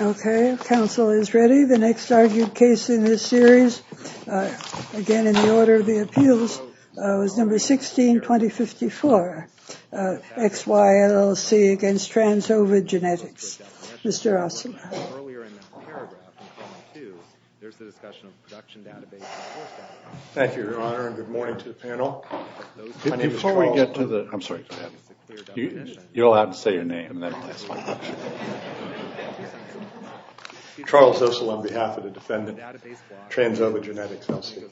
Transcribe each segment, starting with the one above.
Okay, council is ready. The next argued case in this series, again in the order of the appeals, is number 16, 2054, X, Y, LLC against Trans Ova Genetics. Mr. Osler. Thank you, Your Honor, and good morning to the panel. My name is Charles Osler. I'm sorry, go ahead. You're allowed to say your name and then ask my question. Charles Osler on behalf of the defendant, Trans Ova Genetics, L.C.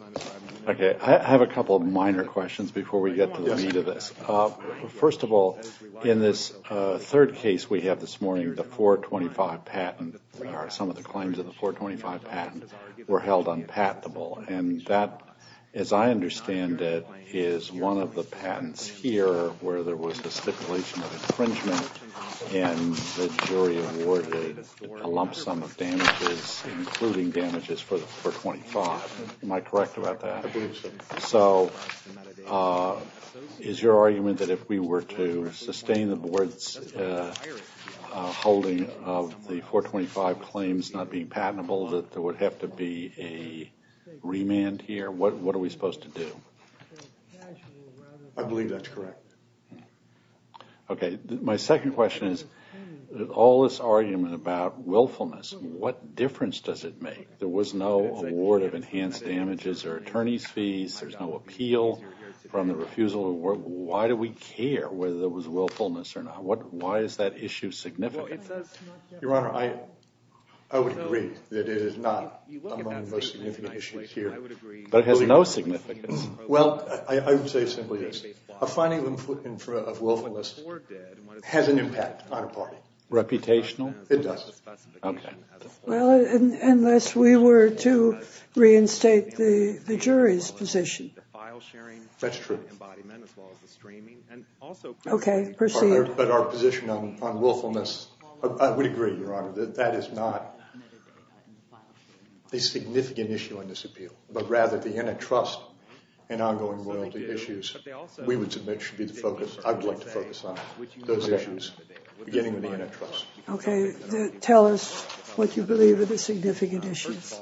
Okay, I have a couple of minor questions before we get to the meat of this. First of all, in this third case we have this morning, the 425 patent, or some of the claims of the 425 patent, were held unpatentable, and that, as I understand it, is one of the patents here where there was the stipulation of infringement and the jury awarded a lump sum of damages, including damages for 425. Am I correct about that? I believe so. So, is your argument that if we were to sustain the board's holding of the 425 claims not being patentable that there would have to be a remand here? What are we supposed to do? I believe that's correct. Okay, my second question is, all this argument about willfulness, what difference does it make? There was no award of enhanced damages or attorney's fees, there's no appeal from the refusal, why do we care whether there was willfulness or not? Why is that issue significant? Your Honor, I would agree that it is not among the most significant issues here. But it has no significance? Well, I would say simply this, a finding of willfulness has an impact on a party. Reputational? It doesn't. Okay. Well, unless we were to reinstate the jury's position. That's true. Okay, proceed. But our position on willfulness, I would agree, Your Honor, that that is not a significant issue in this appeal, but rather the antitrust and ongoing royalty issues we would submit should be the focus, I would like to focus on those issues, beginning with the antitrust. Okay. Tell us what you believe are the significant issues.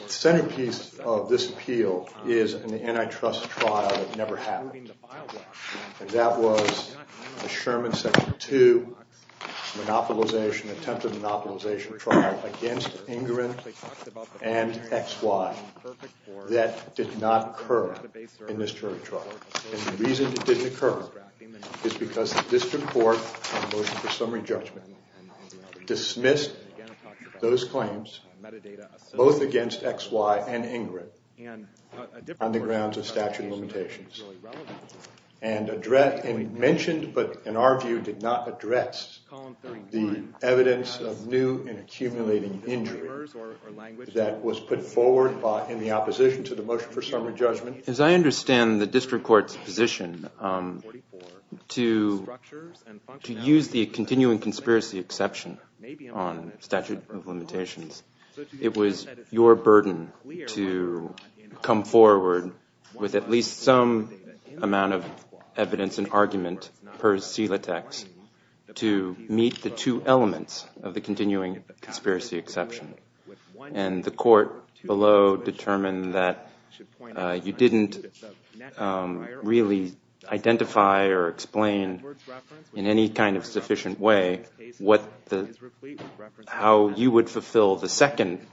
The centerpiece of this appeal is an antitrust trial that never happened, and that was a Sherman Section 2 monopolization, attempted monopolization trial against Ingrin and XY that did not occur in this jury trial. And the reason it didn't occur is because the district court on the motion for summary judgment dismissed those claims, both against XY and Ingrin, on the grounds of statute limitations, and mentioned but, in our view, did not address the evidence of new and accumulating injury that was put forward in the opposition to the motion for summary judgment. As I understand the district court's position, to use the continuing conspiracy exception on statute of limitations, it was your burden to come forward with at least some amount of evidence and argument per sela text to meet the two elements of the continuing conspiracy exception. And the court below determined that you didn't really identify or explain in any kind of sufficient way how you would fulfill the second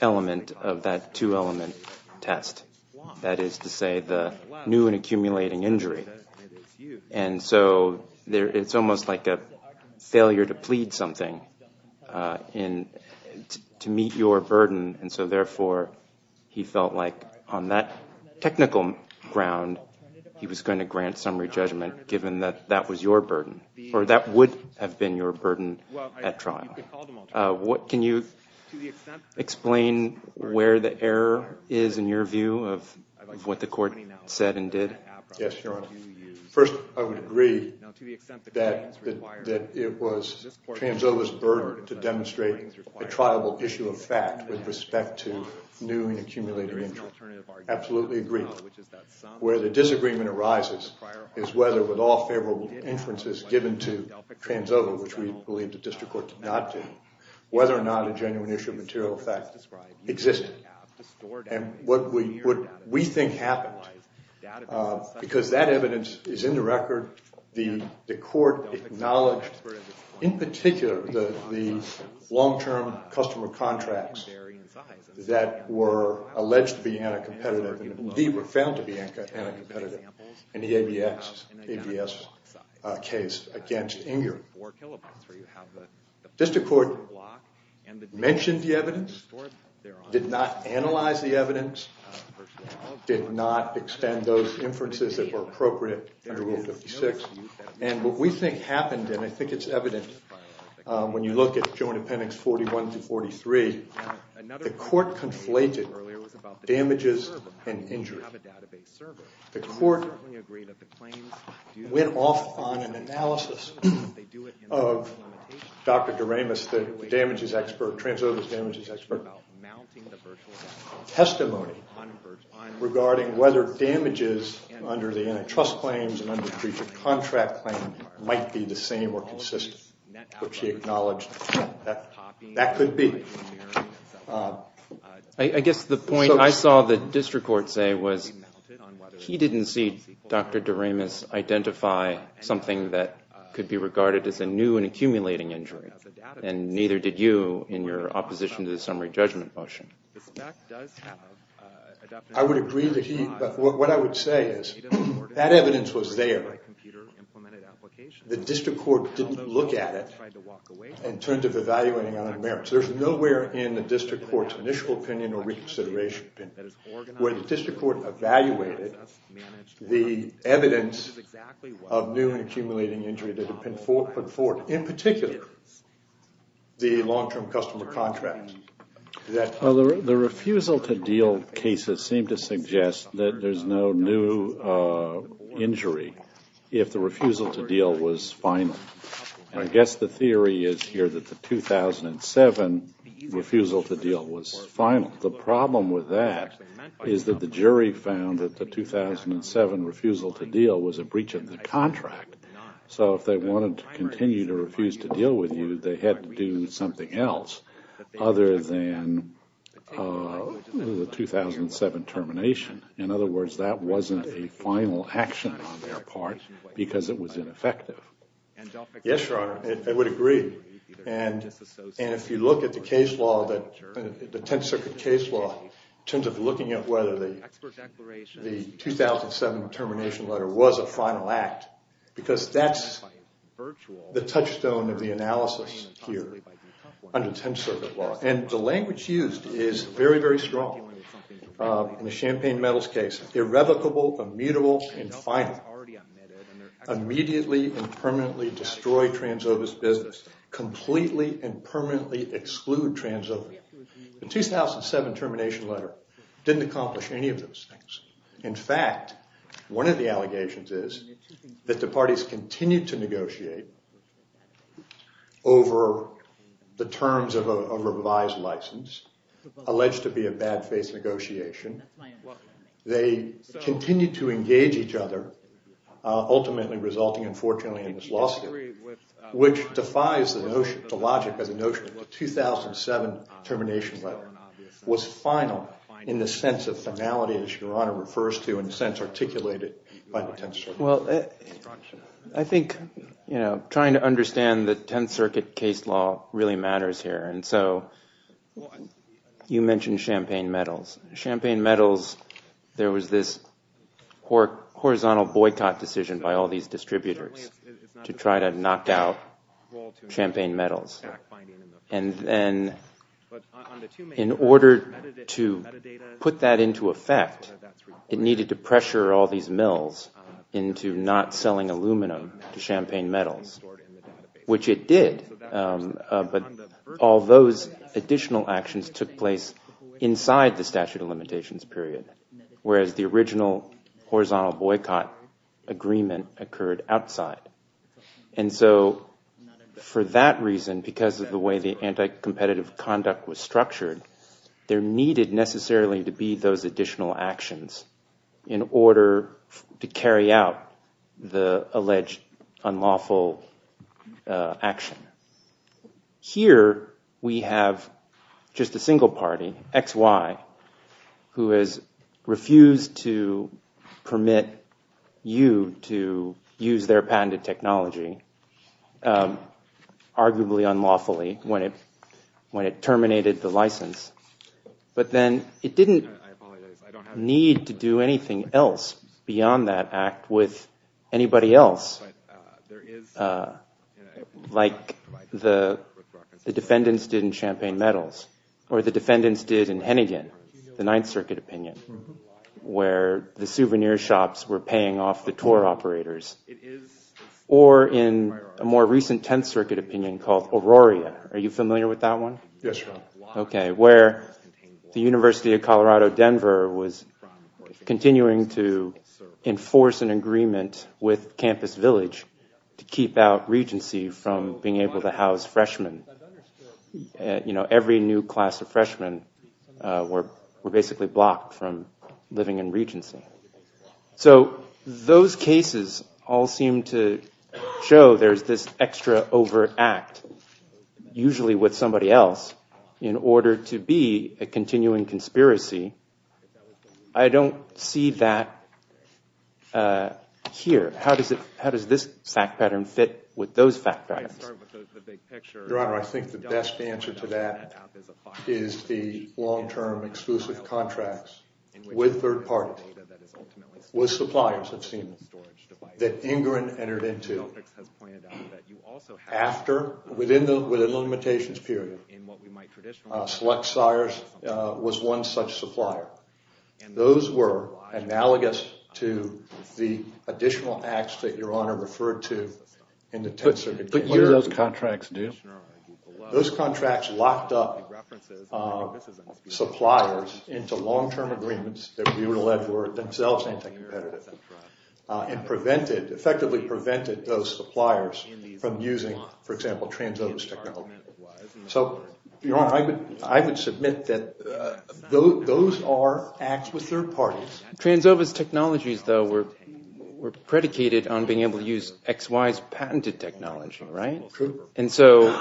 element of that two-element test, that is to say the new and accumulating injury. And so it's almost like a failure to plead something to meet your burden. And so therefore, he felt like on that technical ground, he was going to grant summary judgment given that that was your burden, or that would have been your burden at trial. Can you explain where the error is in your view of what the court said and did? Yes, Your Honor. First, I would agree that it was Transova's burden to demonstrate a triable issue of fact with respect to new and accumulating injury. Absolutely agree. Where the disagreement arises is whether with all favorable inferences given to Transova, which we believe the district court did not do, whether or not a genuine issue of material effect existed. And what we think happened, because that evidence is in the record. The court acknowledged, in particular, the long-term customer contracts that were alleged to be anti-competitive and indeed were found to be anti-competitive in the ABS case against Inger. The district court mentioned the evidence, did not analyze the evidence, did not extend those inferences that were appropriate under Rule 56. And what we think happened, and I think it's evident when you look at Joint Appendix 41 to 43, the court conflated damages and injury. The court went off on an analysis of Dr. Doremus, the damages expert, Transova's damages expert, testimony regarding whether damages under the antitrust claims and under breach of contract claims might be the same or consistent, which he acknowledged that could be. I guess the point I saw the district court say was, he didn't see Dr. Doremus identify something that could be regarded as a new and accumulating injury. And neither did you in your opposition to the summary judgment motion. I would agree that he, what I would say is, that evidence was there. The district court didn't look at it and turn to evaluating on merits. There's nowhere in the district court's initial opinion or reconsideration where the district court evaluated the evidence of new and accumulating injury that had been put forth. In particular, the long-term customer contract. The refusal to deal cases seem to suggest that there's no new injury if the refusal to deal was final. I guess the theory is here that the 2007 refusal to deal was final. The problem with that is that the jury found that the 2007 refusal to deal was a breach of the contract. So if they wanted to continue to refuse to deal with you, they had to do something else other than the 2007 termination. In other words, that wasn't a final action on their part because it was ineffective. Yes, Your Honor. I would agree. And if you look at the case law, the Tenth Circuit case law, in terms of looking at whether the 2007 termination letter was a final act, because that's the touchstone of the analysis here under Tenth Circuit law. And the language used is very, very strong. In the champagne medals case, irrevocable, immutable, and final. Immediately and permanently destroy Transova's business. Completely and permanently exclude Transova. The 2007 termination letter didn't accomplish any of those things. In fact, one of the allegations is that the parties continued to negotiate over the terms of a revised license, alleged to be a bad-face negotiation. They continued to engage each other, ultimately resulting, unfortunately, in this lawsuit, which defies the logic of the notion that the 2007 termination letter was final in the sense of finality, as Your Honor refers to, in the sense articulated by the Tenth Circuit. Well, I think trying to understand the Tenth Circuit case law really matters here. And so you mentioned champagne medals. Champagne medals, there was this horizontal boycott decision by all these distributors to try to knock out champagne medals. And then in order to put that into effect, it needed to pressure all these mills into not selling aluminum to champagne medals, which it did. But all those additional actions took place inside the statute of limitations period, whereas the original horizontal boycott agreement occurred outside. And so for that reason, because of the way the anti-competitive conduct was structured, there needed necessarily to be those additional actions in order to carry out the alleged unlawful action. Here, we have just a single party, XY, who has refused to permit you to use their patented technology, arguably unlawfully, when it terminated the license. But then it didn't need to do anything else beyond that act with anybody else, like the defendants did in champagne medals, or the defendants did in Hennigan, the Ninth Circuit opinion, where the souvenir shops were paying off the tour operators. Or in a more recent Tenth Circuit opinion called Aurora. Are you familiar with that one? Yes, sir. Okay, where the University of Colorado Denver was continuing to enforce an agreement with Campus Village to keep out Regency from being able to house freshmen. You know, every new class of freshmen were basically blocked from living in Regency. So those cases all seem to show there's this extra overt act, usually with somebody else, in order to be a continuing conspiracy. I don't see that here. How does this fact pattern fit with those fact patterns? Your Honor, I think the best answer to that is the long-term exclusive contracts with third parties, with suppliers, it seems, that Ingren entered into. After, within the limitations period, Select Sires was one such supplier. Those were analogous to the additional acts that Your Honor referred to in the Tenth Circuit opinion. But what did those contracts do? Those contracts locked up suppliers into long-term agreements that we were led to, and effectively prevented those suppliers from using, for example, TransOva's technology. So, Your Honor, I would submit that those are acts with third parties. TransOva's technologies, though, were predicated on being able to use XY's patented technology, right? And so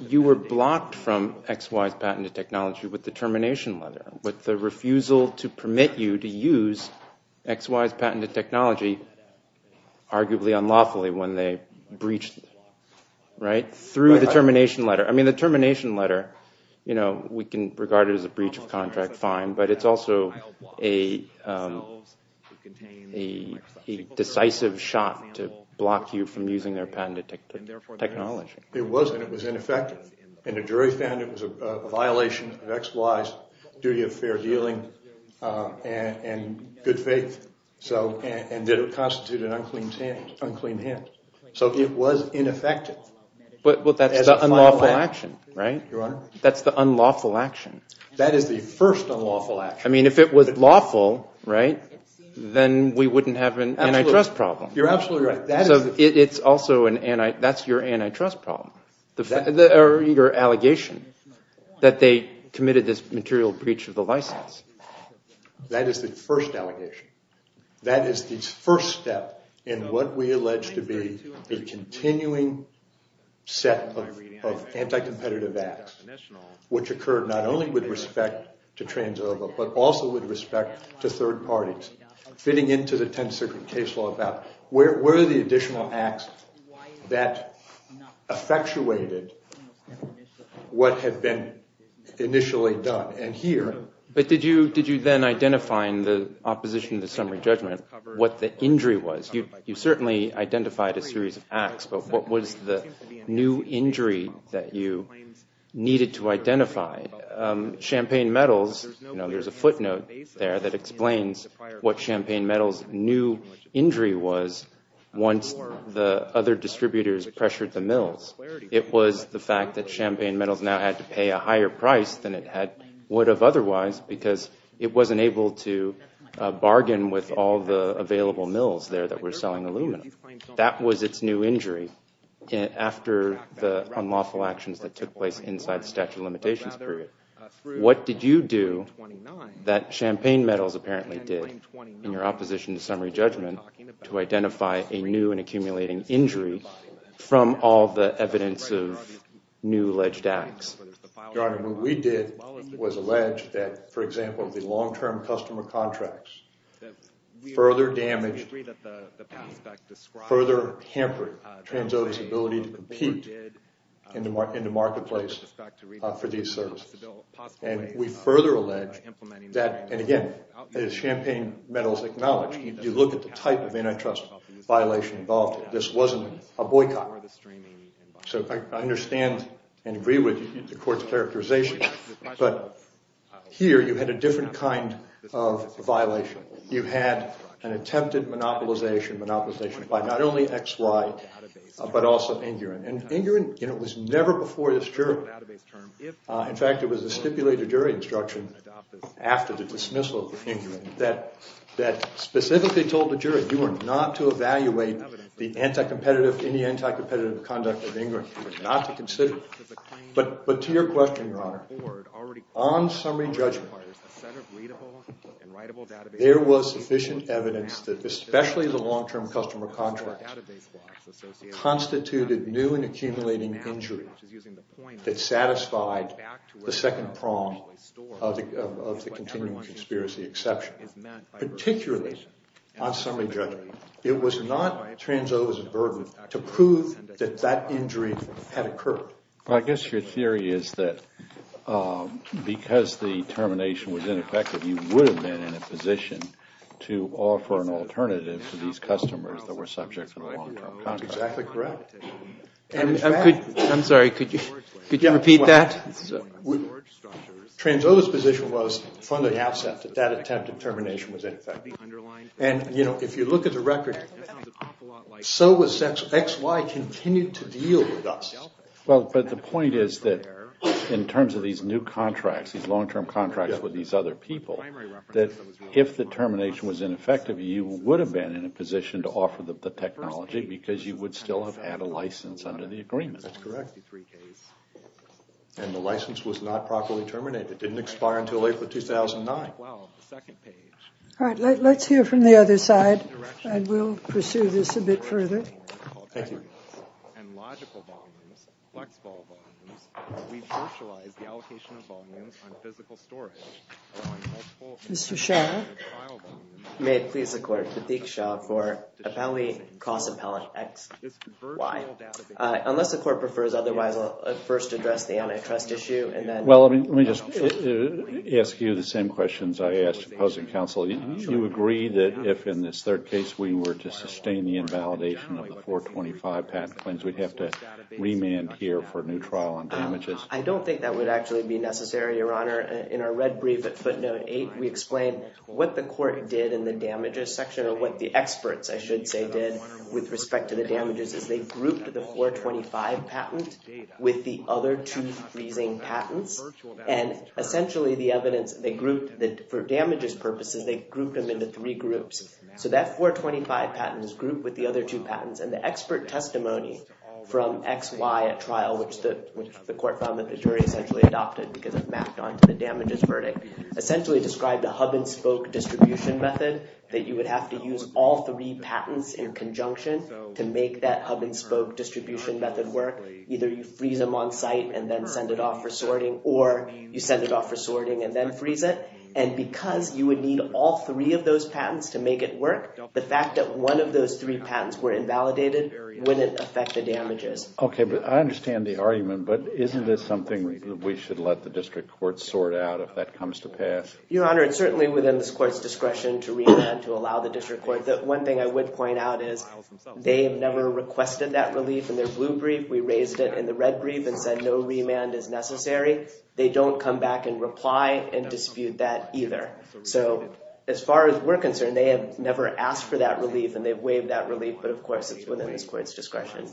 you were blocked from XY's patented technology with the termination letter, with the refusal to permit you to use XY's patented technology, arguably unlawfully, when they breached it, right? Through the termination letter. I mean, the termination letter, we can regard it as a breach of contract, fine. But it's also a decisive shot to block you from using their patented technology. It wasn't. It was ineffective. And the jury found it was a violation of XY's duty of fair dealing and good faith, and that it constituted an unclean hand. So it was ineffective. But that's the unlawful action, right? Your Honor? That's the unlawful action. That is the first unlawful action. I mean, if it was lawful, right, then we wouldn't have an antitrust problem. You're absolutely right. That's your antitrust problem, or your allegation, that they committed this material breach of the license. That is the first allegation. That is the first step in what we allege to be a continuing set of anti-competitive acts, which occurred not only with respect to TransOva, but also with respect to third parties, fitting into the 10th Circuit case law about where are the additional acts that effectuated what had been initially done. And here— But did you then identify in the opposition to the summary judgment what the injury was? You certainly identified a series of acts, but what was the new injury that you needed to identify? Champagne Metals, there's a footnote there that explains what Champagne Metals' new injury was once the other distributors pressured the mills. It was the fact that Champagne Metals now had to pay a higher price than it would have otherwise because it wasn't able to bargain with all the available mills there that were selling aluminum. That was its new injury after the unlawful actions that took place inside the statute of limitations period. What did you do that Champagne Metals apparently did in your opposition to summary judgment to identify a new and accumulating injury from all the evidence of new alleged acts? Your Honor, what we did was allege that, for example, the long-term customer contracts further damaged, further hampered TransOva's ability to compete in the marketplace for these services. And we further allege that, and again, as Champagne Metals acknowledged, you look at the type of antitrust violation involved, this wasn't a boycott. So I understand and agree with the Court's characterization, but here you had a different kind of violation. You had an attempted monopolization by not only XY, but also Ingrin. And Ingrin was never before this jury. In fact, it was a stipulated jury instruction after the dismissal of Ingrin that specifically told the jury you are not to evaluate any anti-competitive conduct of Ingrin. But to your question, Your Honor, on summary judgment, there was sufficient evidence that especially the long-term customer contracts constituted new and accumulating injury that satisfied the second prong of the continuing conspiracy exception. Particularly on summary judgment, it was not TransOva's burden to prove that that injury had occurred. Well, I guess your theory is that because the termination was ineffective, you would have been in a position to offer an alternative to these customers that were subject to the long-term contract. Exactly correct. I'm sorry, could you repeat that? TransOva's position was from the outset that that attempted termination was ineffective. And, you know, if you look at the record, so was XY continued to deal with us. Well, but the point is that in terms of these new contracts, these long-term contracts with these other people, that if the termination was ineffective, you would have been in a position to offer the technology because you would still have had a license under the agreement. That's correct. And the license was not properly terminated. It didn't expire until April 2009. All right, let's hear from the other side. And we'll pursue this a bit further. Thank you. Mr. Shah? May it please the Court. Pateek Shah for Appellee Cross-Appellant XY. Unless the Court prefers otherwise, I'll first address the antitrust issue and then— Well, let me just ask you the same questions I asked opposing counsel. Do you agree that if, in this third case, we were to sustain the invalidation of the 425 patent claims, we'd have to remand here for a new trial on damages? I don't think that would actually be necessary, Your Honor. In our red brief at footnote 8, we explain what the Court did in the damages section or what the experts, I should say, did with respect to the damages, is they grouped the 425 patent with the other two freezing patents. And essentially, the evidence they grouped for damages purposes, they grouped them into three groups. So that 425 patent is grouped with the other two patents. And the expert testimony from XY at trial, which the Court found that the jury essentially adopted because it mapped onto the damages verdict, essentially described a hub-and-spoke distribution method that you would have to use all three patents in conjunction to make that hub-and-spoke distribution method work. Either you freeze them on site and then send it off for sorting or you send it off for sorting and then freeze it. And because you would need all three of those patents to make it work, the fact that one of those three patents were invalidated wouldn't affect the damages. Okay, but I understand the argument, but isn't this something we should let the District Court sort out if that comes to pass? Your Honor, it's certainly within this Court's discretion to remand to allow the District Court. The one thing I would point out is they have never requested that relief in their blue brief. We raised it in the red brief and said no remand is necessary. They don't come back and reply and dispute that either. So as far as we're concerned, they have never asked for that relief and they've waived that relief, but of course it's within this Court's discretion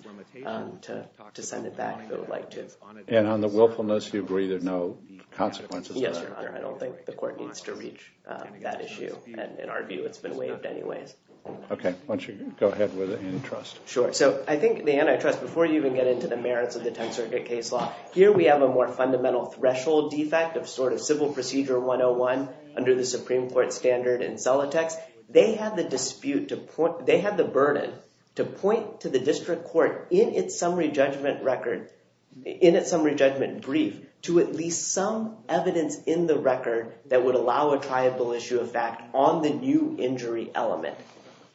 to send it back if it would like to. And on the willfulness, you agree there are no consequences there? Yes, Your Honor. I don't think the Court needs to reach that issue. In our view, it's been waived anyways. Okay, why don't you go ahead with the antitrust. Sure. So I think the antitrust, before you even get into the merits of the Tenth Circuit case law, here we have a more fundamental threshold defect of sort of Civil Procedure 101 under the Supreme Court standard in Zolotex. They had the dispute to point – they had the burden to point to the District Court in its summary judgment record – in its summary judgment brief to at least some evidence in the record that would allow a triable issue of fact on the new injury element.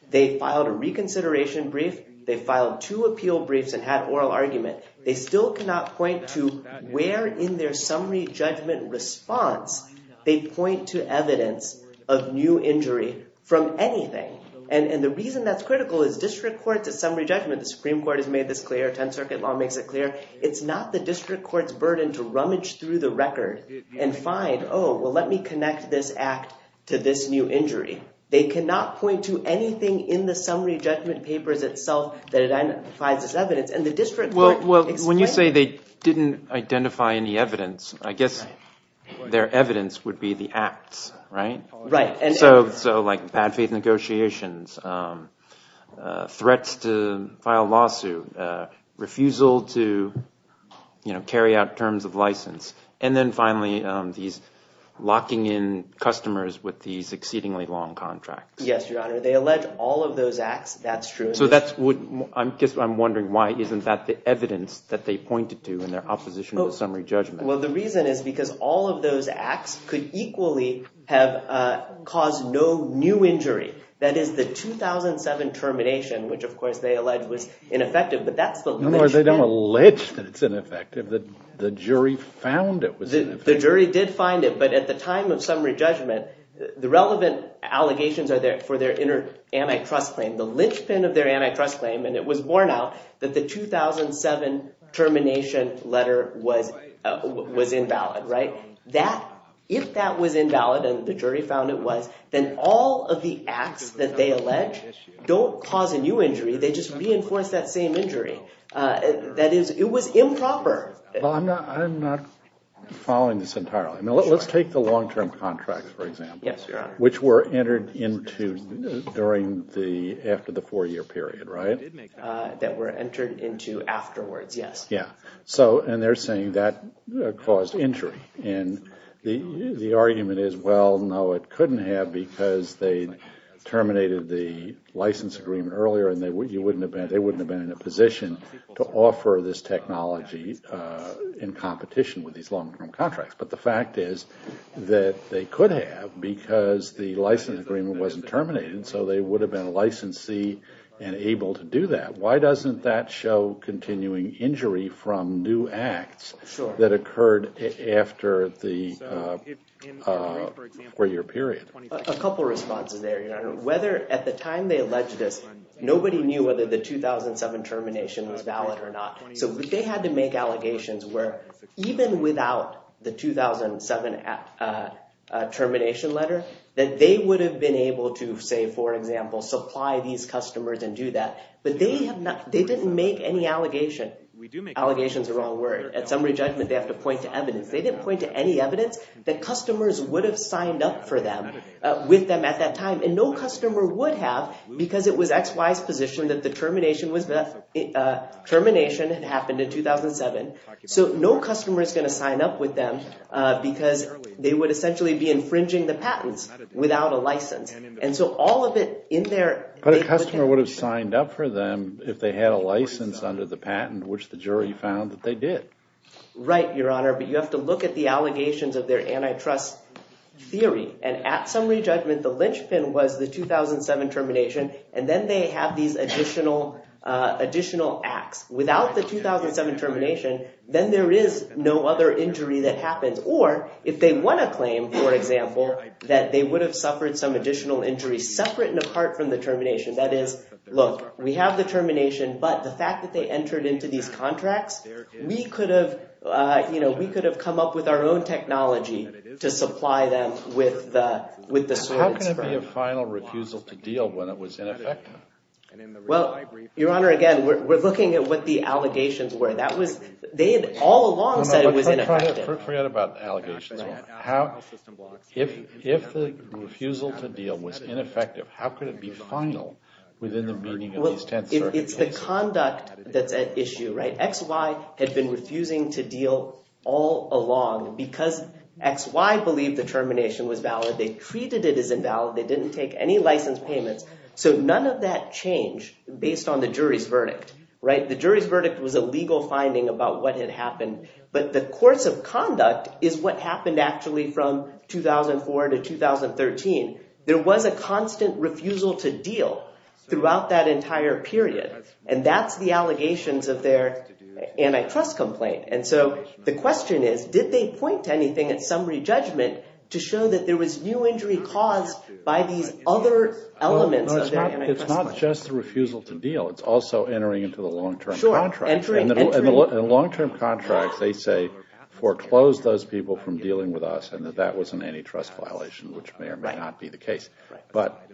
They filed a reconsideration brief. They filed two appeal briefs and had oral argument. They still cannot point to where in their summary judgment response they point to evidence of new injury from anything. And the reason that's critical is District Court's summary judgment – the Supreme Court has made this clear, Tenth Circuit law makes it clear – it's not the District Court's burden to rummage through the record and find, oh, well, let me connect this act to this new injury. They cannot point to anything in the summary judgment papers itself that identifies this evidence. And the District Court – Well, when you say they didn't identify any evidence, I guess their evidence would be the acts, right? Right. So, like, bad faith negotiations, threats to file a lawsuit, refusal to carry out terms of license, and then finally these locking in customers with these exceedingly long contracts. Yes, Your Honor. They allege all of those acts. That's true. So that's what – I guess I'm wondering why isn't that the evidence that they pointed to in their opposition to the summary judgment? Well, the reason is because all of those acts could equally have caused no new injury. That is, the 2007 termination, which, of course, they allege was ineffective, but that's the – No, they don't allege that it's ineffective. The jury found it was ineffective. The jury did find it, but at the time of summary judgment, the relevant allegations are there for their inner antitrust claim, the linchpin of their antitrust claim, and it was borne out that the 2007 termination letter was invalid, right? If that was invalid and the jury found it was, then all of the acts that they allege don't cause a new injury. They just reinforce that same injury. That is, it was improper. Well, I'm not following this entirely. Let's take the long-term contracts, for example, which were entered into during the – after the four-year period, right? That were entered into afterwards, yes. Yeah. And they're saying that caused injury, and the argument is, well, no, it couldn't have because they terminated the license agreement earlier and they wouldn't have been in a position to offer this technology in competition with these long-term contracts. But the fact is that they could have because the license agreement wasn't terminated, so they would have been a licensee and able to do that. Why doesn't that show continuing injury from new acts that occurred after the four-year period? A couple responses there, Your Honor. Whether – at the time they alleged this, nobody knew whether the 2007 termination letter was valid or not. So they had to make allegations where, even without the 2007 termination letter, that they would have been able to, say, for example, supply these customers and do that. But they have not – they didn't make any allegation. Allegation is the wrong word. At summary judgment, they have to point to evidence. They didn't point to any evidence that customers would have signed up for them with them at that time, and no customer would have because it was XY's position that the termination had happened in 2007. So no customer is going to sign up with them because they would essentially be infringing the patents without a license. And so all of it in their – But a customer would have signed up for them if they had a license under the patent, which the jury found that they did. Right, Your Honor, but you have to look at the allegations of their antitrust theory. And at summary judgment, the linchpin was the 2007 termination, and then they have these additional acts. Without the 2007 termination, then there is no other injury that happens. Or if they won a claim, for example, that they would have suffered some additional injury separate and apart from the termination. That is, look, we have the termination, but the fact that they entered into these contracts, we could have, you know, we could have come up with our own technology to supply them with the swords. How can it be a final refusal to deal when it was ineffective? Well, Your Honor, again, we're looking at what the allegations were. That was – they had all along said it was ineffective. Forget about allegations. How – If the refusal to deal was ineffective, how could it be final within the meaning of these 10th Circuit cases? Well, it's the conduct that's at issue, right? XY had been refusing to deal all along because XY believed the termination was valid. They treated it as invalid. They didn't take any license payments. So none of that changed based on the jury's verdict, right? The jury's verdict was a legal finding about what had happened, but the course of conduct is what happened actually from 2004 to 2013. There was a constant refusal to deal throughout that entire period, and that's the allegations of their antitrust complaint. And so the question is, did they point to anything at summary judgment to show that there was new injury caused by these other elements of their antitrust complaint? It's not just the refusal to deal. It's also entering into the long-term contract. Sure, entering, entering. And the long-term contracts, they say, foreclosed those people from dealing with us and that that was an antitrust violation, which may or may not be the case. But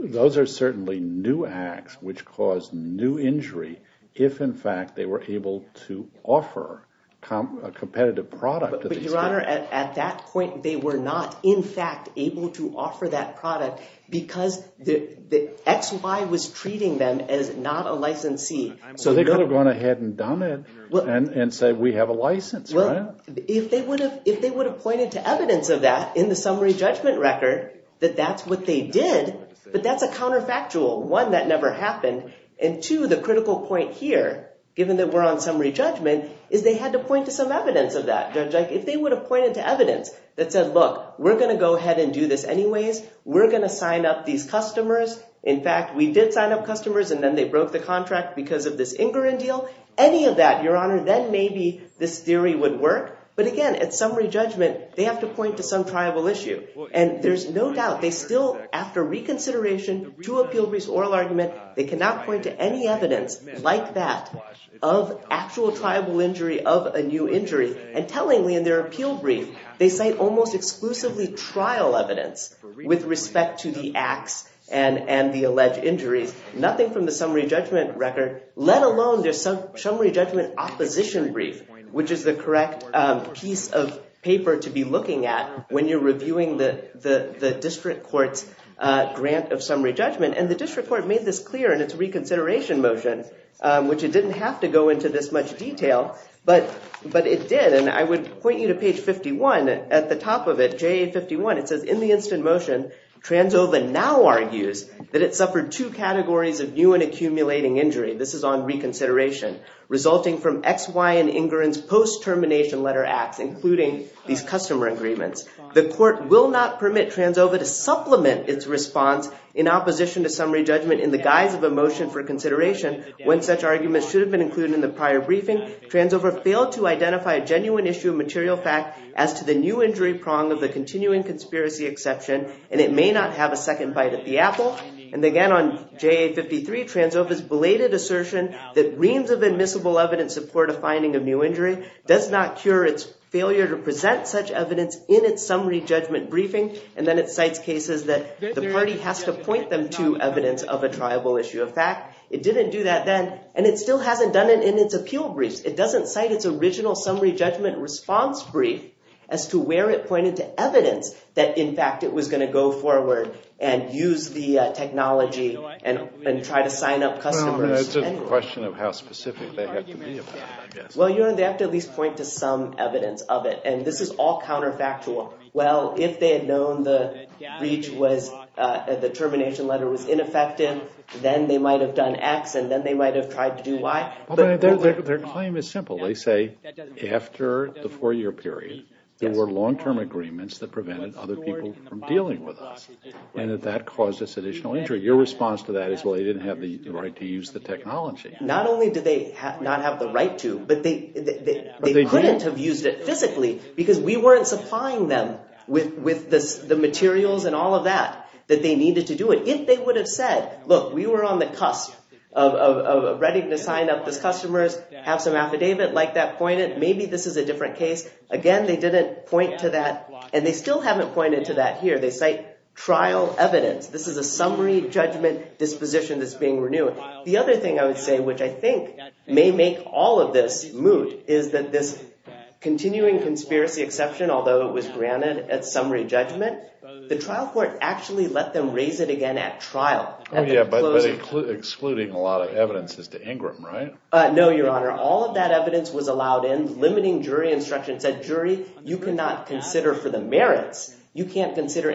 those are certainly new acts which caused new injury if, in fact, they were able to offer a competitive product to these people. Your Honor, at that point, they were not, in fact, able to offer that product because XY was treating them as not a licensee. So they could have gone ahead and done it and said, we have a license, right? If they would have pointed to evidence of that in the summary judgment record, that that's what they did, but that's a counterfactual. One, that never happened. And two, the critical point here, given that we're on summary judgment, is they had to point to some evidence of that. If they would have pointed to evidence that said, look, we're going to go ahead and do this anyways. We're going to sign up these customers. In fact, we did sign up customers and then they broke the contract because of this Ingrin deal. Any of that, Your Honor, then maybe this theory would work. But again, at summary judgment, they have to point to some triable issue. And there's no doubt. They still, after reconsideration to appeal brief oral argument, they cannot point to any evidence like that of actual triable injury of a new injury and tellingly in their appeal brief, they cite almost exclusively trial evidence with respect to the acts and the alleged injuries, nothing from the summary judgment record, let alone their summary judgment opposition brief, which is the correct piece of paper to be looking at when you're reviewing the district court's grant of summary judgment. And the district court made this clear in its reconsideration motion, which it didn't have to go into this much detail, but it did. And I would point you to page 51. At the top of it, JA51, it says, in the instant motion, Transova now argues that it suffered two categories of new and accumulating injury. This is on reconsideration, resulting from X, Y, and Ingrin's post-termination letter acts, including these customer agreements. The court will not permit Transova to supplement its response in opposition to summary judgment in the guise of a motion for consideration when such arguments should have been included in the prior briefing. Transova failed to identify a genuine issue of material fact as to the new injury prong of the continuing conspiracy exception, and it may not have a second bite at the apple. And again, on JA53, Transova's belated assertion that reams of admissible evidence support a finding of new injury does not cure its failure to present such evidence in its summary judgment briefing. And then it cites cases that the party has to point them to evidence of a triable issue of fact. It didn't do that then, and it still hasn't done it in its appeal briefs. It doesn't cite its original summary judgment response brief as to where it pointed to evidence that, in fact, it was going to go forward and use the technology and try to sign up customers. Well, it's just a question of how specific they have to be about it, I guess. Well, you know, they have to at least point to some evidence of it, and this is all counterfactual. Well, if they had known the termination letter was ineffective, then they might have done X, and then they might have tried to do Y. Their claim is simple. They say, after the four-year period, there were long-term agreements that prevented other people from dealing with us, and that that caused us additional injury. Your response to that is, well, they didn't have the right to use the technology. Not only did they not have the right to, but they couldn't have used it physically because we weren't supplying them with the materials and all of that that they needed to do it. If they would have said, look, we were on the cusp of ready to sign up these customers, have some affidavit like that pointed, maybe this is a different case, again, they didn't point to that, and they still haven't pointed to that here. They cite trial evidence. This is a summary judgment disposition that's being renewed. The other thing I would say, which I think may make all of this moot, is that this continuing conspiracy exception, although it was granted at summary judgment, the trial court actually let them raise it again at trial. Oh, yeah, but excluding a lot of evidence as to Ingram, right? No, Your Honor. All of that evidence was allowed in, limiting jury instruction. It said, jury, you cannot consider for the merits. You can't consider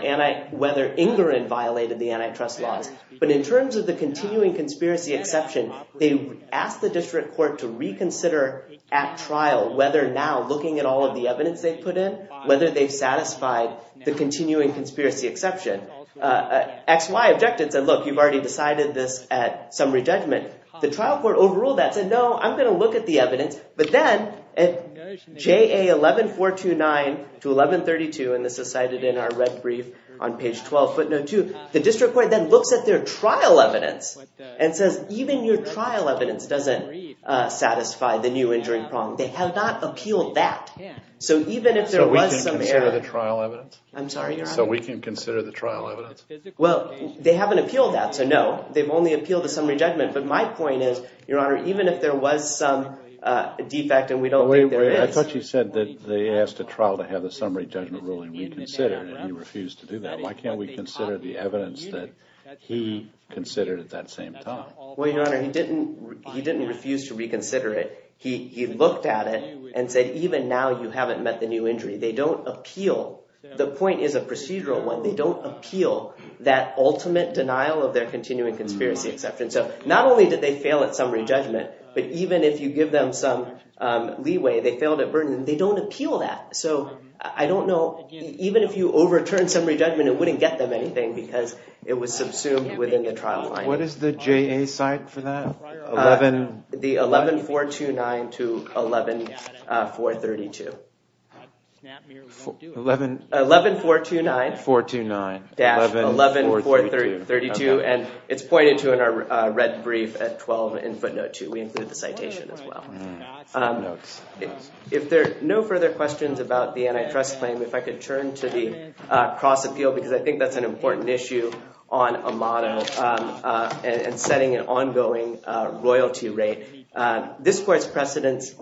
whether Ingram violated the antitrust laws. But in terms of the continuing conspiracy exception, they asked the district court to reconsider at trial whether now, looking at all of the evidence they've put in, whether they've satisfied the continuing conspiracy exception. XY objected and said, look, you've already decided this at summary judgment. The trial court overruled that, said, no, I'm going to look at the evidence. But then at JA 11429 to 1132, and this is cited in our red brief on page 12, footnote two, the district court then looks at their trial evidence and says, even your trial evidence doesn't satisfy the new injuring prong. They have not appealed that. So even if there was some... So we can consider the trial evidence? I'm sorry, Your Honor. So we can consider the trial evidence? Well, they haven't appealed that, so no. They've only appealed the summary judgment. But my point is, Your Honor, even if there was some defect and we don't think there is... But wait, wait, I thought you said that they asked a trial to have the summary judgment ruling reconsidered and he refused to do that. Why can't we consider the evidence that he considered at that same time? Well, Your Honor, he didn't refuse to reconsider it. He looked at it and said, even now you haven't met the new injury. They don't appeal. The point is a procedural one. They don't appeal that ultimate denial of their continuing conspiracy exception. So not only did they fail at summary judgment, but even if you give them some leeway, they failed at burden, they don't appeal that. So I don't know... Even if you overturn summary judgment, it wouldn't get them anything because it was subsumed within the trial line. What is the JA cite for that? 11... The 11-429 to 11-432. 11-429-11-432. And it's pointed to in our red brief at 12 in footnote 2. We include the citation as well. If there are no further questions about the antitrust claim, if I could turn to the cross appeal because I think that's an important issue on a model and setting an ongoing royalty rate. This court's precedents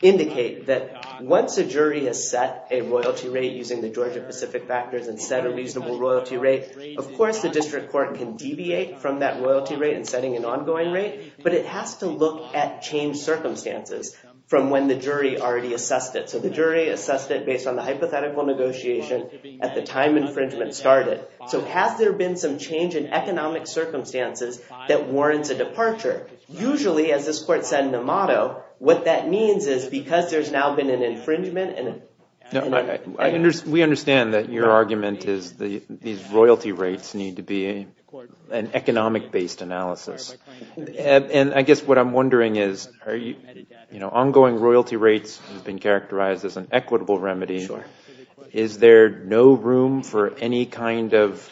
indicate that once a jury has set a royalty rate using the Georgia Pacific factors and set a reasonable royalty rate, of course the district court can deviate from that royalty rate in setting an ongoing rate, but it has to look at changed circumstances from when the jury already assessed it. So the jury assessed it based on the hypothetical negotiation at the time infringement started. So has there been some change in economic circumstances that warrants a departure? Usually, as this court said in the motto, what that means is because there's now been an infringement and... We understand that your argument is these royalty rates need to be an economic-based analysis. And I guess what I'm wondering is are you, you know, ongoing royalty rates have been characterized as an equitable remedy. Is there no room for any kind of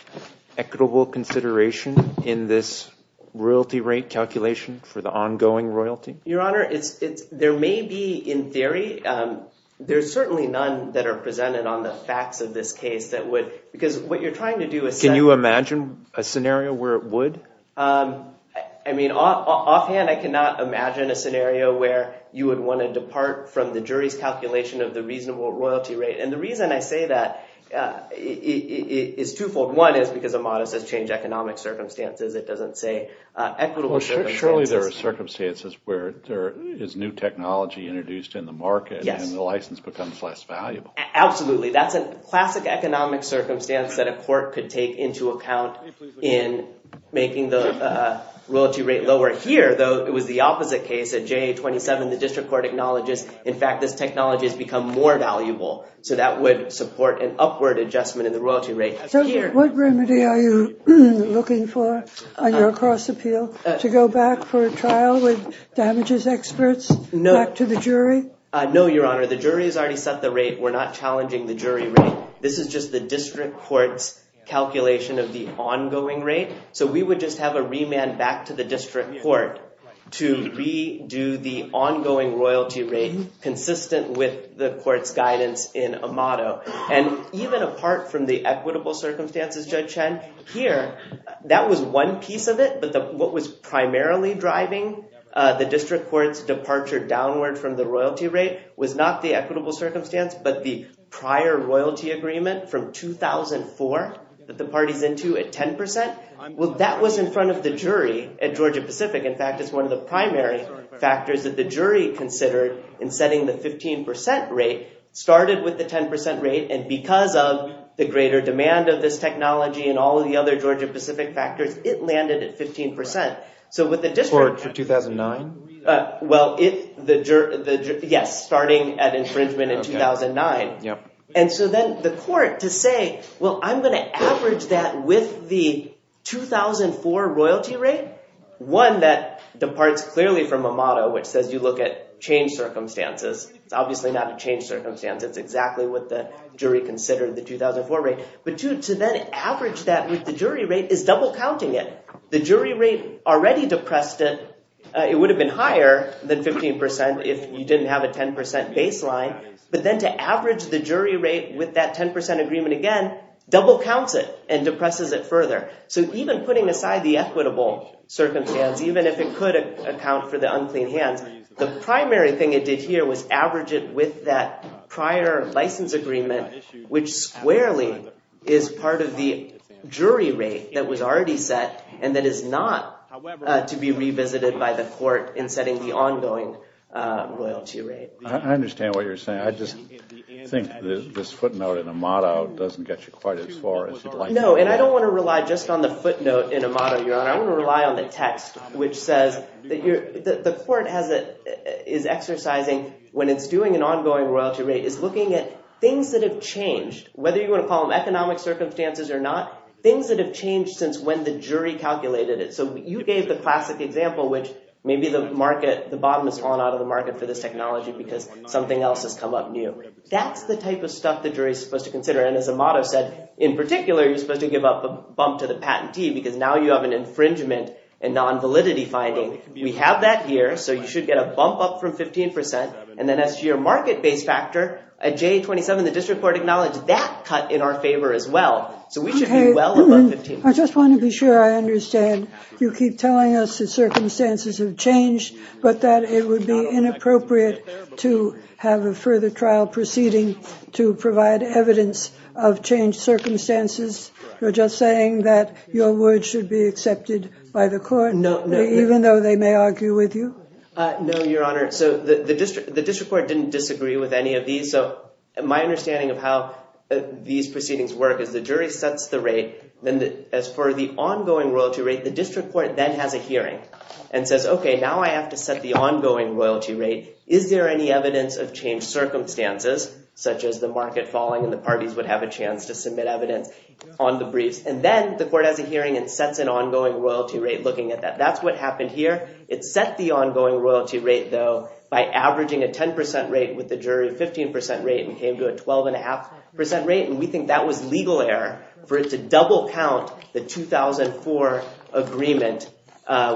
equitable consideration in this royalty rate calculation for the ongoing royalty? Your Honor, there may be, in theory, there's certainly none that are presented on the facts of this case that would... Because what you're trying to do is... Can you imagine a scenario where it would? I mean, offhand, I cannot imagine a scenario where you would want to depart from the jury's calculation of the reasonable royalty rate. And the reason I say that is twofold. One is because a motto says change economic circumstances. It doesn't say equitable circumstances. Surely there are circumstances where there is new technology introduced in the market and the license becomes less valuable. Absolutely. That's a classic economic circumstance that a court could take into account in making the royalty rate lower. Here, though, it was the opposite case. At JA-27, the district court acknowledges, in fact, this technology has become more valuable. So that would support an upward adjustment in the royalty rate. What remedy are you looking for on your cross-appeal? To go back for a trial with damages experts? No. Back to the jury? No, Your Honor. The jury has already set the rate. We're not challenging the jury rate. This is just the district court's calculation of the ongoing rate. So we would just have a remand back to the district court to redo the ongoing royalty rate consistent with the court's guidance in a motto. And even apart from the equitable circumstances, Judge Chen, here, that was one piece of it. But what was primarily driving the district court's departure downward from the royalty rate was not the equitable circumstance, but the prior royalty agreement from 2004 that the party's into at 10%. Well, that was in front of the jury at Georgia-Pacific. In fact, it's one of the primary factors that the jury considered in setting the 15% rate, started with the 10% rate, and because of the greater demand of this technology and all of the other Georgia-Pacific factors, it landed at 15%. For 2009? Well, yes, starting at infringement in 2009. And so then the court, to say, well, I'm gonna average that with the 2004 royalty rate, one, that departs clearly from a motto which says you look at changed circumstances. It's obviously not a changed circumstance. It's exactly what the jury considered, the 2004 rate. But two, to then average that with the jury rate is double-counting it. The jury rate already depressed it. It would have been higher than 15% if you didn't have a 10% baseline, but then to average the jury rate with that 10% agreement again double-counts it and depresses it further. So even putting aside the equitable circumstance, even if it could account for the unclean hands, the primary thing it did here was average it with that prior license agreement which squarely is part of the jury rate that was already set and that is not to be revisited by the court in setting the ongoing royalty rate. I understand what you're saying. I just think this footnote in a motto doesn't get you quite as far as you'd like. No, and I don't wanna rely just on the footnote in a motto, Your Honor. I wanna rely on the text which says that the court is exercising, when it's doing an ongoing royalty rate, is looking at things that have changed, whether you wanna call them economic circumstances or not, things that have changed since when the jury calculated it. So you gave the classic example which maybe the bottom is falling out of the market for this technology because something else has come up new. That's the type of stuff the jury's supposed to consider and as a motto said, in particular you're supposed to give up a bump to the patentee because now you have an infringement and non-validity finding. We have that here, so you should get a bump up from 15% and then as to your market-based factor, at J27 the district court acknowledged that cut in our favor as well. So we should be well above 15%. I just wanna be sure I understand. You keep telling us that circumstances have changed but that it would be inappropriate to have a further trial proceeding to provide evidence of changed circumstances. You're just saying that your word should be accepted by the court even though they may argue with you? No, Your Honor. So the district court didn't disagree with any of these. So my understanding of how these proceedings work is the jury sets the rate then as for the ongoing royalty rate, the district court then has a hearing and says okay, now I have to set the ongoing royalty rate. Is there any evidence of changed circumstances such as the market falling and the parties would have a chance to submit evidence on the briefs and then the court has a hearing and sets an ongoing royalty rate looking at that. That's what happened here. It set the ongoing royalty rate though by averaging a 10% rate with the jury 15% rate and came to a 12.5% rate and we think that was legal error for it to double count the 2004 agreement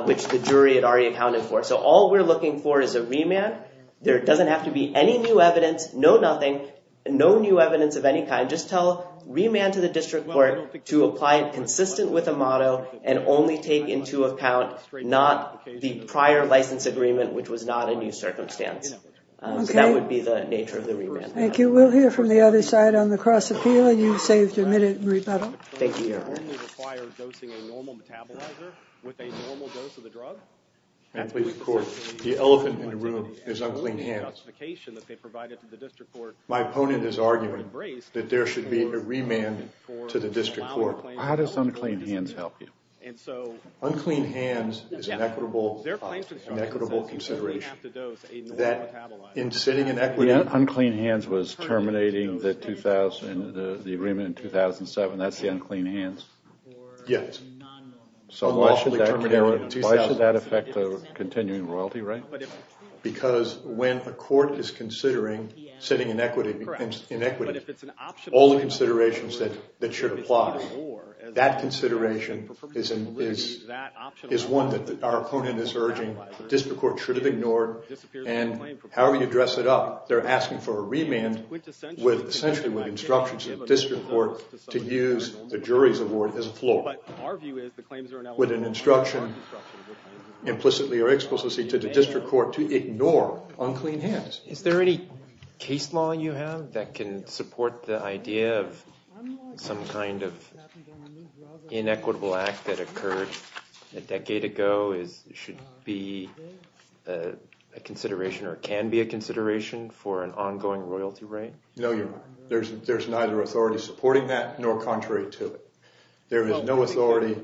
which the jury had already accounted for. So all we're looking for is a remand. There doesn't have to be any new evidence, no nothing, no new evidence of any kind. Just tell remand to the district court to apply it consistent with a motto and only take into account not the prior license agreement which was not a new circumstance. So that would be the nature of the remand. Thank you. We'll hear from the other side on the cross appeal and you've saved a minute, Marie Petal. Thank you, Your Honor. Ma'am, please record. The elephant in the room is unclean hands. My opponent is arguing that there should be a remand to the district court. How does unclean hands help you? Unclean hands is an equitable consideration. Unclean hands was terminating the agreement in 2007. That's the unclean hands? Yes. So why should that affect the continuing royalty right? Because when a court is considering setting inequity, all the considerations that should apply, that consideration is one that our opponent is urging. The district court should have ignored and however you dress it up, they're asking for a remand essentially with instructions of the district court to use the jury's award as a floor with an instruction implicitly or explicitly to the district court to ignore unclean hands. Is there any case law you have that can support the idea of some kind of inequitable act that occurred a decade ago should be a consideration or can be a consideration for an ongoing royalty right? No, Your Honor. There's neither authority supporting that nor contrary to it. There is no authority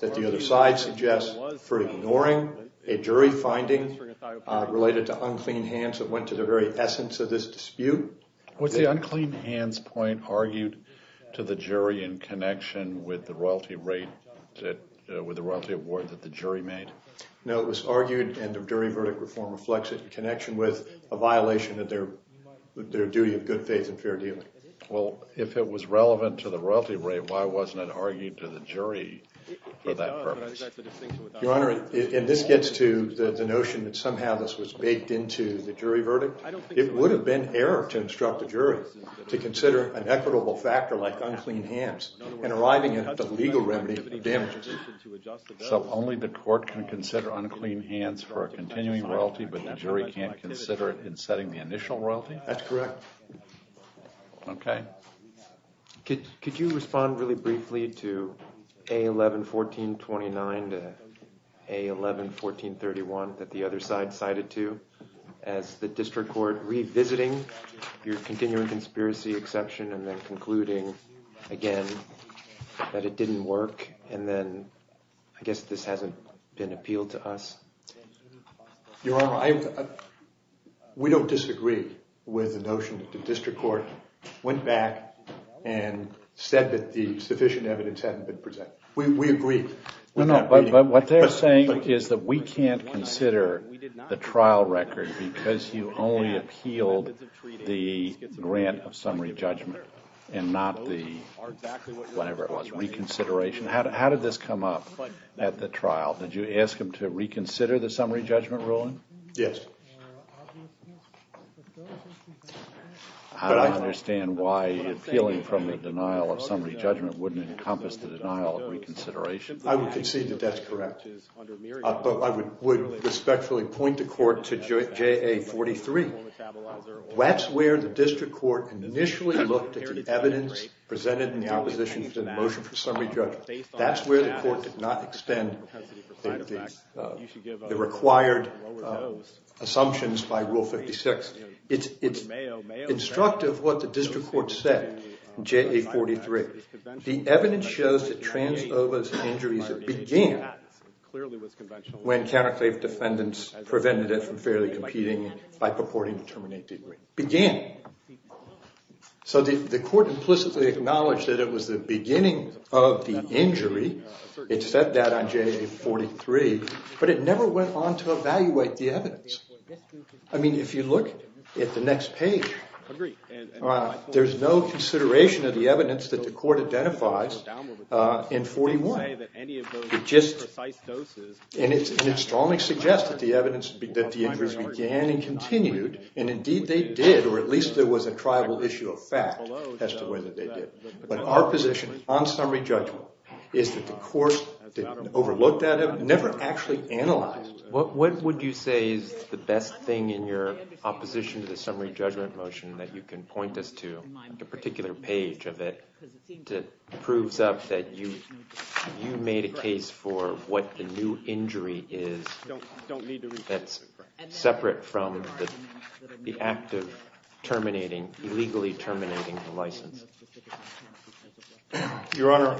that the other side suggests for ignoring a jury finding related to unclean hands that went to the very essence of this dispute. Was the unclean hands point argued to the jury in connection with the royalty rate with the royalty award that the jury made? No, it was argued and the jury verdict reform reflects it in connection with a violation of their their duty of good faith and fair dealing. Well, if it was relevant to the royalty rate, why wasn't it argued to the jury for that purpose? Your Honor, and this gets to the notion that somehow this was baked into the jury verdict. It would have been error to instruct the jury to consider an equitable factor like unclean hands in arriving at the legal remedy of the damages. So only the court can consider unclean hands for a continuing royalty but the jury can't consider it in setting the initial royalty? That's correct. Okay. Could you respond really briefly to A11-1429 to A11-1431 that the other side cited to as the district court revisiting your continuing conspiracy exception and then concluding again that it didn't work and then I guess this hasn't been appealed to us? Your Honor, we don't disagree with the notion that the district court went back and said that the sufficient evidence hadn't been presented. We agree. No, no, but what they're saying is that we can't consider the trial record because you only appealed the grant of summary judgment and not the, whatever it was, reconsideration. How did this come up at the trial? Did you ask them to reconsider the summary judgment ruling? Yes. I don't understand why appealing from the denial of summary judgment wouldn't encompass the denial of reconsideration. I would concede that that's correct. But I would respectfully point the court to JA-43. That's where the district court initially looked at the evidence presented in the opposition to the motion for summary judgment. That's where the court did not extend the required assumptions by Rule 56. It's instructive what the district court said in JA-43. The evidence shows that Transova's injuries began when counterclave defendants prevented it from fairly competing by purporting to terminate the agreement. Began. So the court implicitly acknowledged that it was the beginning of the injury. It said that on JA-43. But it never went on to evaluate the evidence. I mean, if you look at the next page, there's no consideration of the evidence that the court identifies in 41. And it strongly suggests that the evidence that the injuries began and continued, and indeed they did, or at least there was a triable issue of fact as to whether they did. But our position on summary judgment is that the court didn't overlook that evidence, never actually analyzed it. What would you say is the best thing in your opposition to the summary judgment motion that you can point us to on a particular page of it that proves up that you made a case for what the new injury is that's separate from the act of terminating, illegally terminating the license? Your Honor,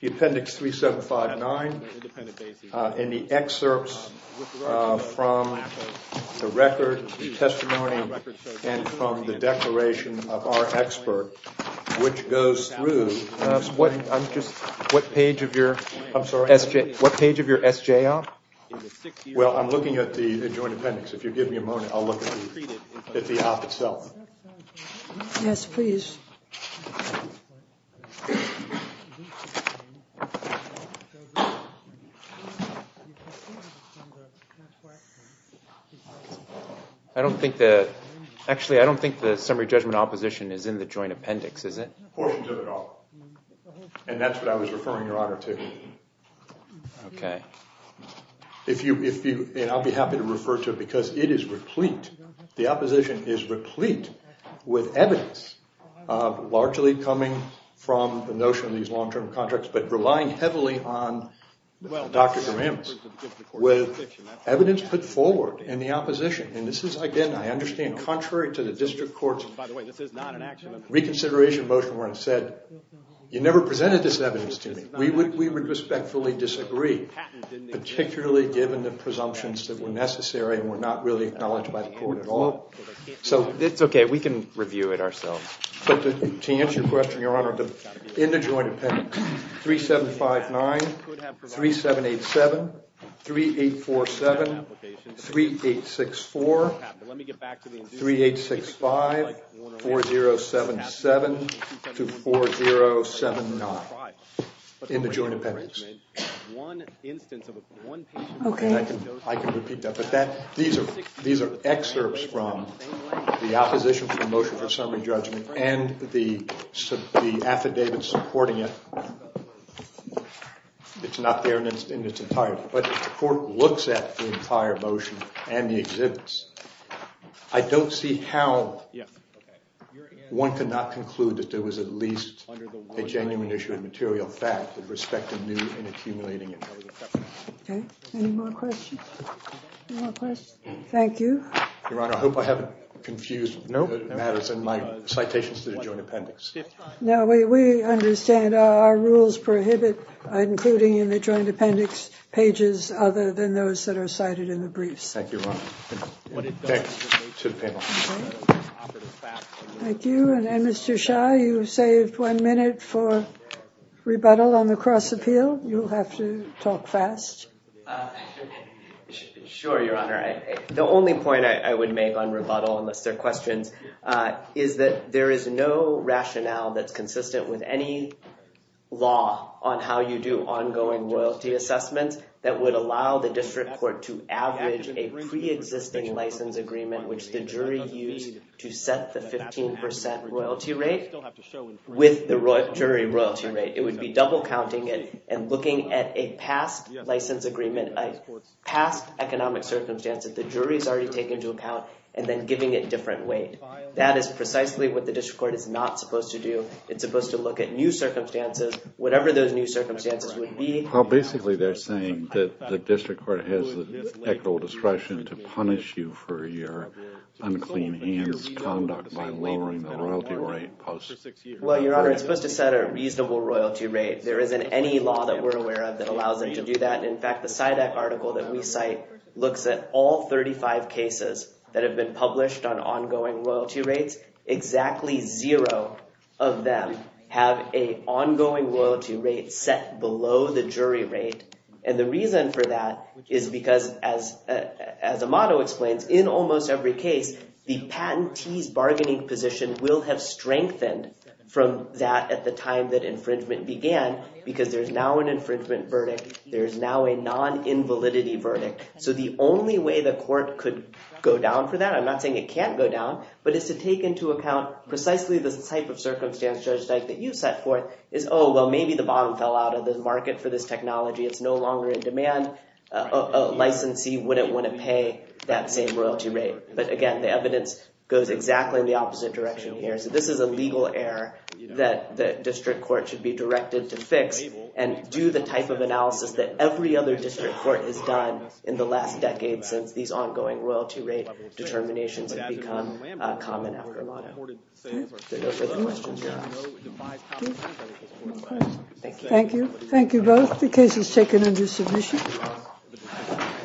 the appendix 3759 and the excerpts from the record, the testimony, and from the declaration of our expert, which goes through, what page of your SJ op? Well, I'm looking at the joint appendix. If you give me a moment, I'll look at the op itself. Yes, please. I don't think the summary judgment opposition is in the joint appendix, is it? Portions of it are, and that's what I was referring, Your Honor, to. Okay. And I'll be happy to refer to it because it is replete. The opposition is replete with evidence largely coming from the notion of these long-term contracts but relying heavily on Dr. Dermambus with evidence put forward in the opposition. And this is, again, I understand, contrary to the district court's reconsideration motion where it said, you never presented this evidence to me. We would respectfully disagree, particularly given the presumptions that were necessary and were not really acknowledged by the court at all. It's okay. We can review it ourselves. But to answer your question, Your Honor, in the joint appendix, 3759, 3787, 3847, 3864, 3865, 4077 to 4079 in the joint appendix. Okay. I can repeat that, but these are excerpts from the opposition to the motion for summary judgment and the affidavit supporting it. It's not there in its entirety, but the court looks at the entire motion and the exhibits. I don't see how one could not conclude that there was at least a genuine issue of material fact with respect to new and accumulating evidence. Okay. Any more questions? Any more questions? Thank you. Your Honor, I hope I haven't confused matters in my citations to the joint appendix. No, we understand. Our rules prohibit including in the joint appendix pages other than those that are cited in the briefs. Thank you, Your Honor. Thanks to the panel. Thank you. And Mr. Shah, you saved one minute for rebuttal on the cross-appeal. You'll have to talk fast. Sure, Your Honor. The only point I would make on rebuttal, unless there are questions, is that there is no rationale that's consistent with any law on how you do ongoing royalty assessments that would allow the district court to average a preexisting license agreement which the jury used to set the 15% royalty rate with the jury royalty rate. It would be double counting it and looking at a past license agreement, a past economic circumstance that the jury's already taken into account and then giving it different weight. That is precisely what the district court is not supposed to do. It's supposed to look at new circumstances, whatever those new circumstances would be. Well, basically they're saying that the district court has the technical discretion to punish you for your unclean hands' conduct by lowering the royalty rate. Well, Your Honor, it's supposed to set a reasonable royalty rate. There isn't any law that we're aware of that allows them to do that. In fact, the SIDAC article that we cite looks at all 35 cases that have been published on ongoing royalty rates. Exactly zero of them have a ongoing royalty rate set below the jury rate. And the reason for that is because as Amado explains, in almost every case, the patentee's bargaining position will have strengthened from that at the time that infringement began because there's now an infringement verdict. There's now a non-invalidity verdict. So the only way the court could go down for that, I'm not saying it can't go down, but it's to take into account precisely the type of circumstance, Judge Dyke, that you set forth, is, oh, well, maybe the bottom fell out of the market for this technology. It's no longer in demand. A licensee wouldn't want to pay that same royalty rate. But again, the evidence goes exactly in the opposite direction here. So this is a legal error that the district court should be directed to fix and do the type of analysis that every other district court has done in the last decade since these ongoing royalty rate determinations have become common after Amado. Are there no further questions, Your Honor? No questions. Thank you. Thank you both. The case is taken under submission.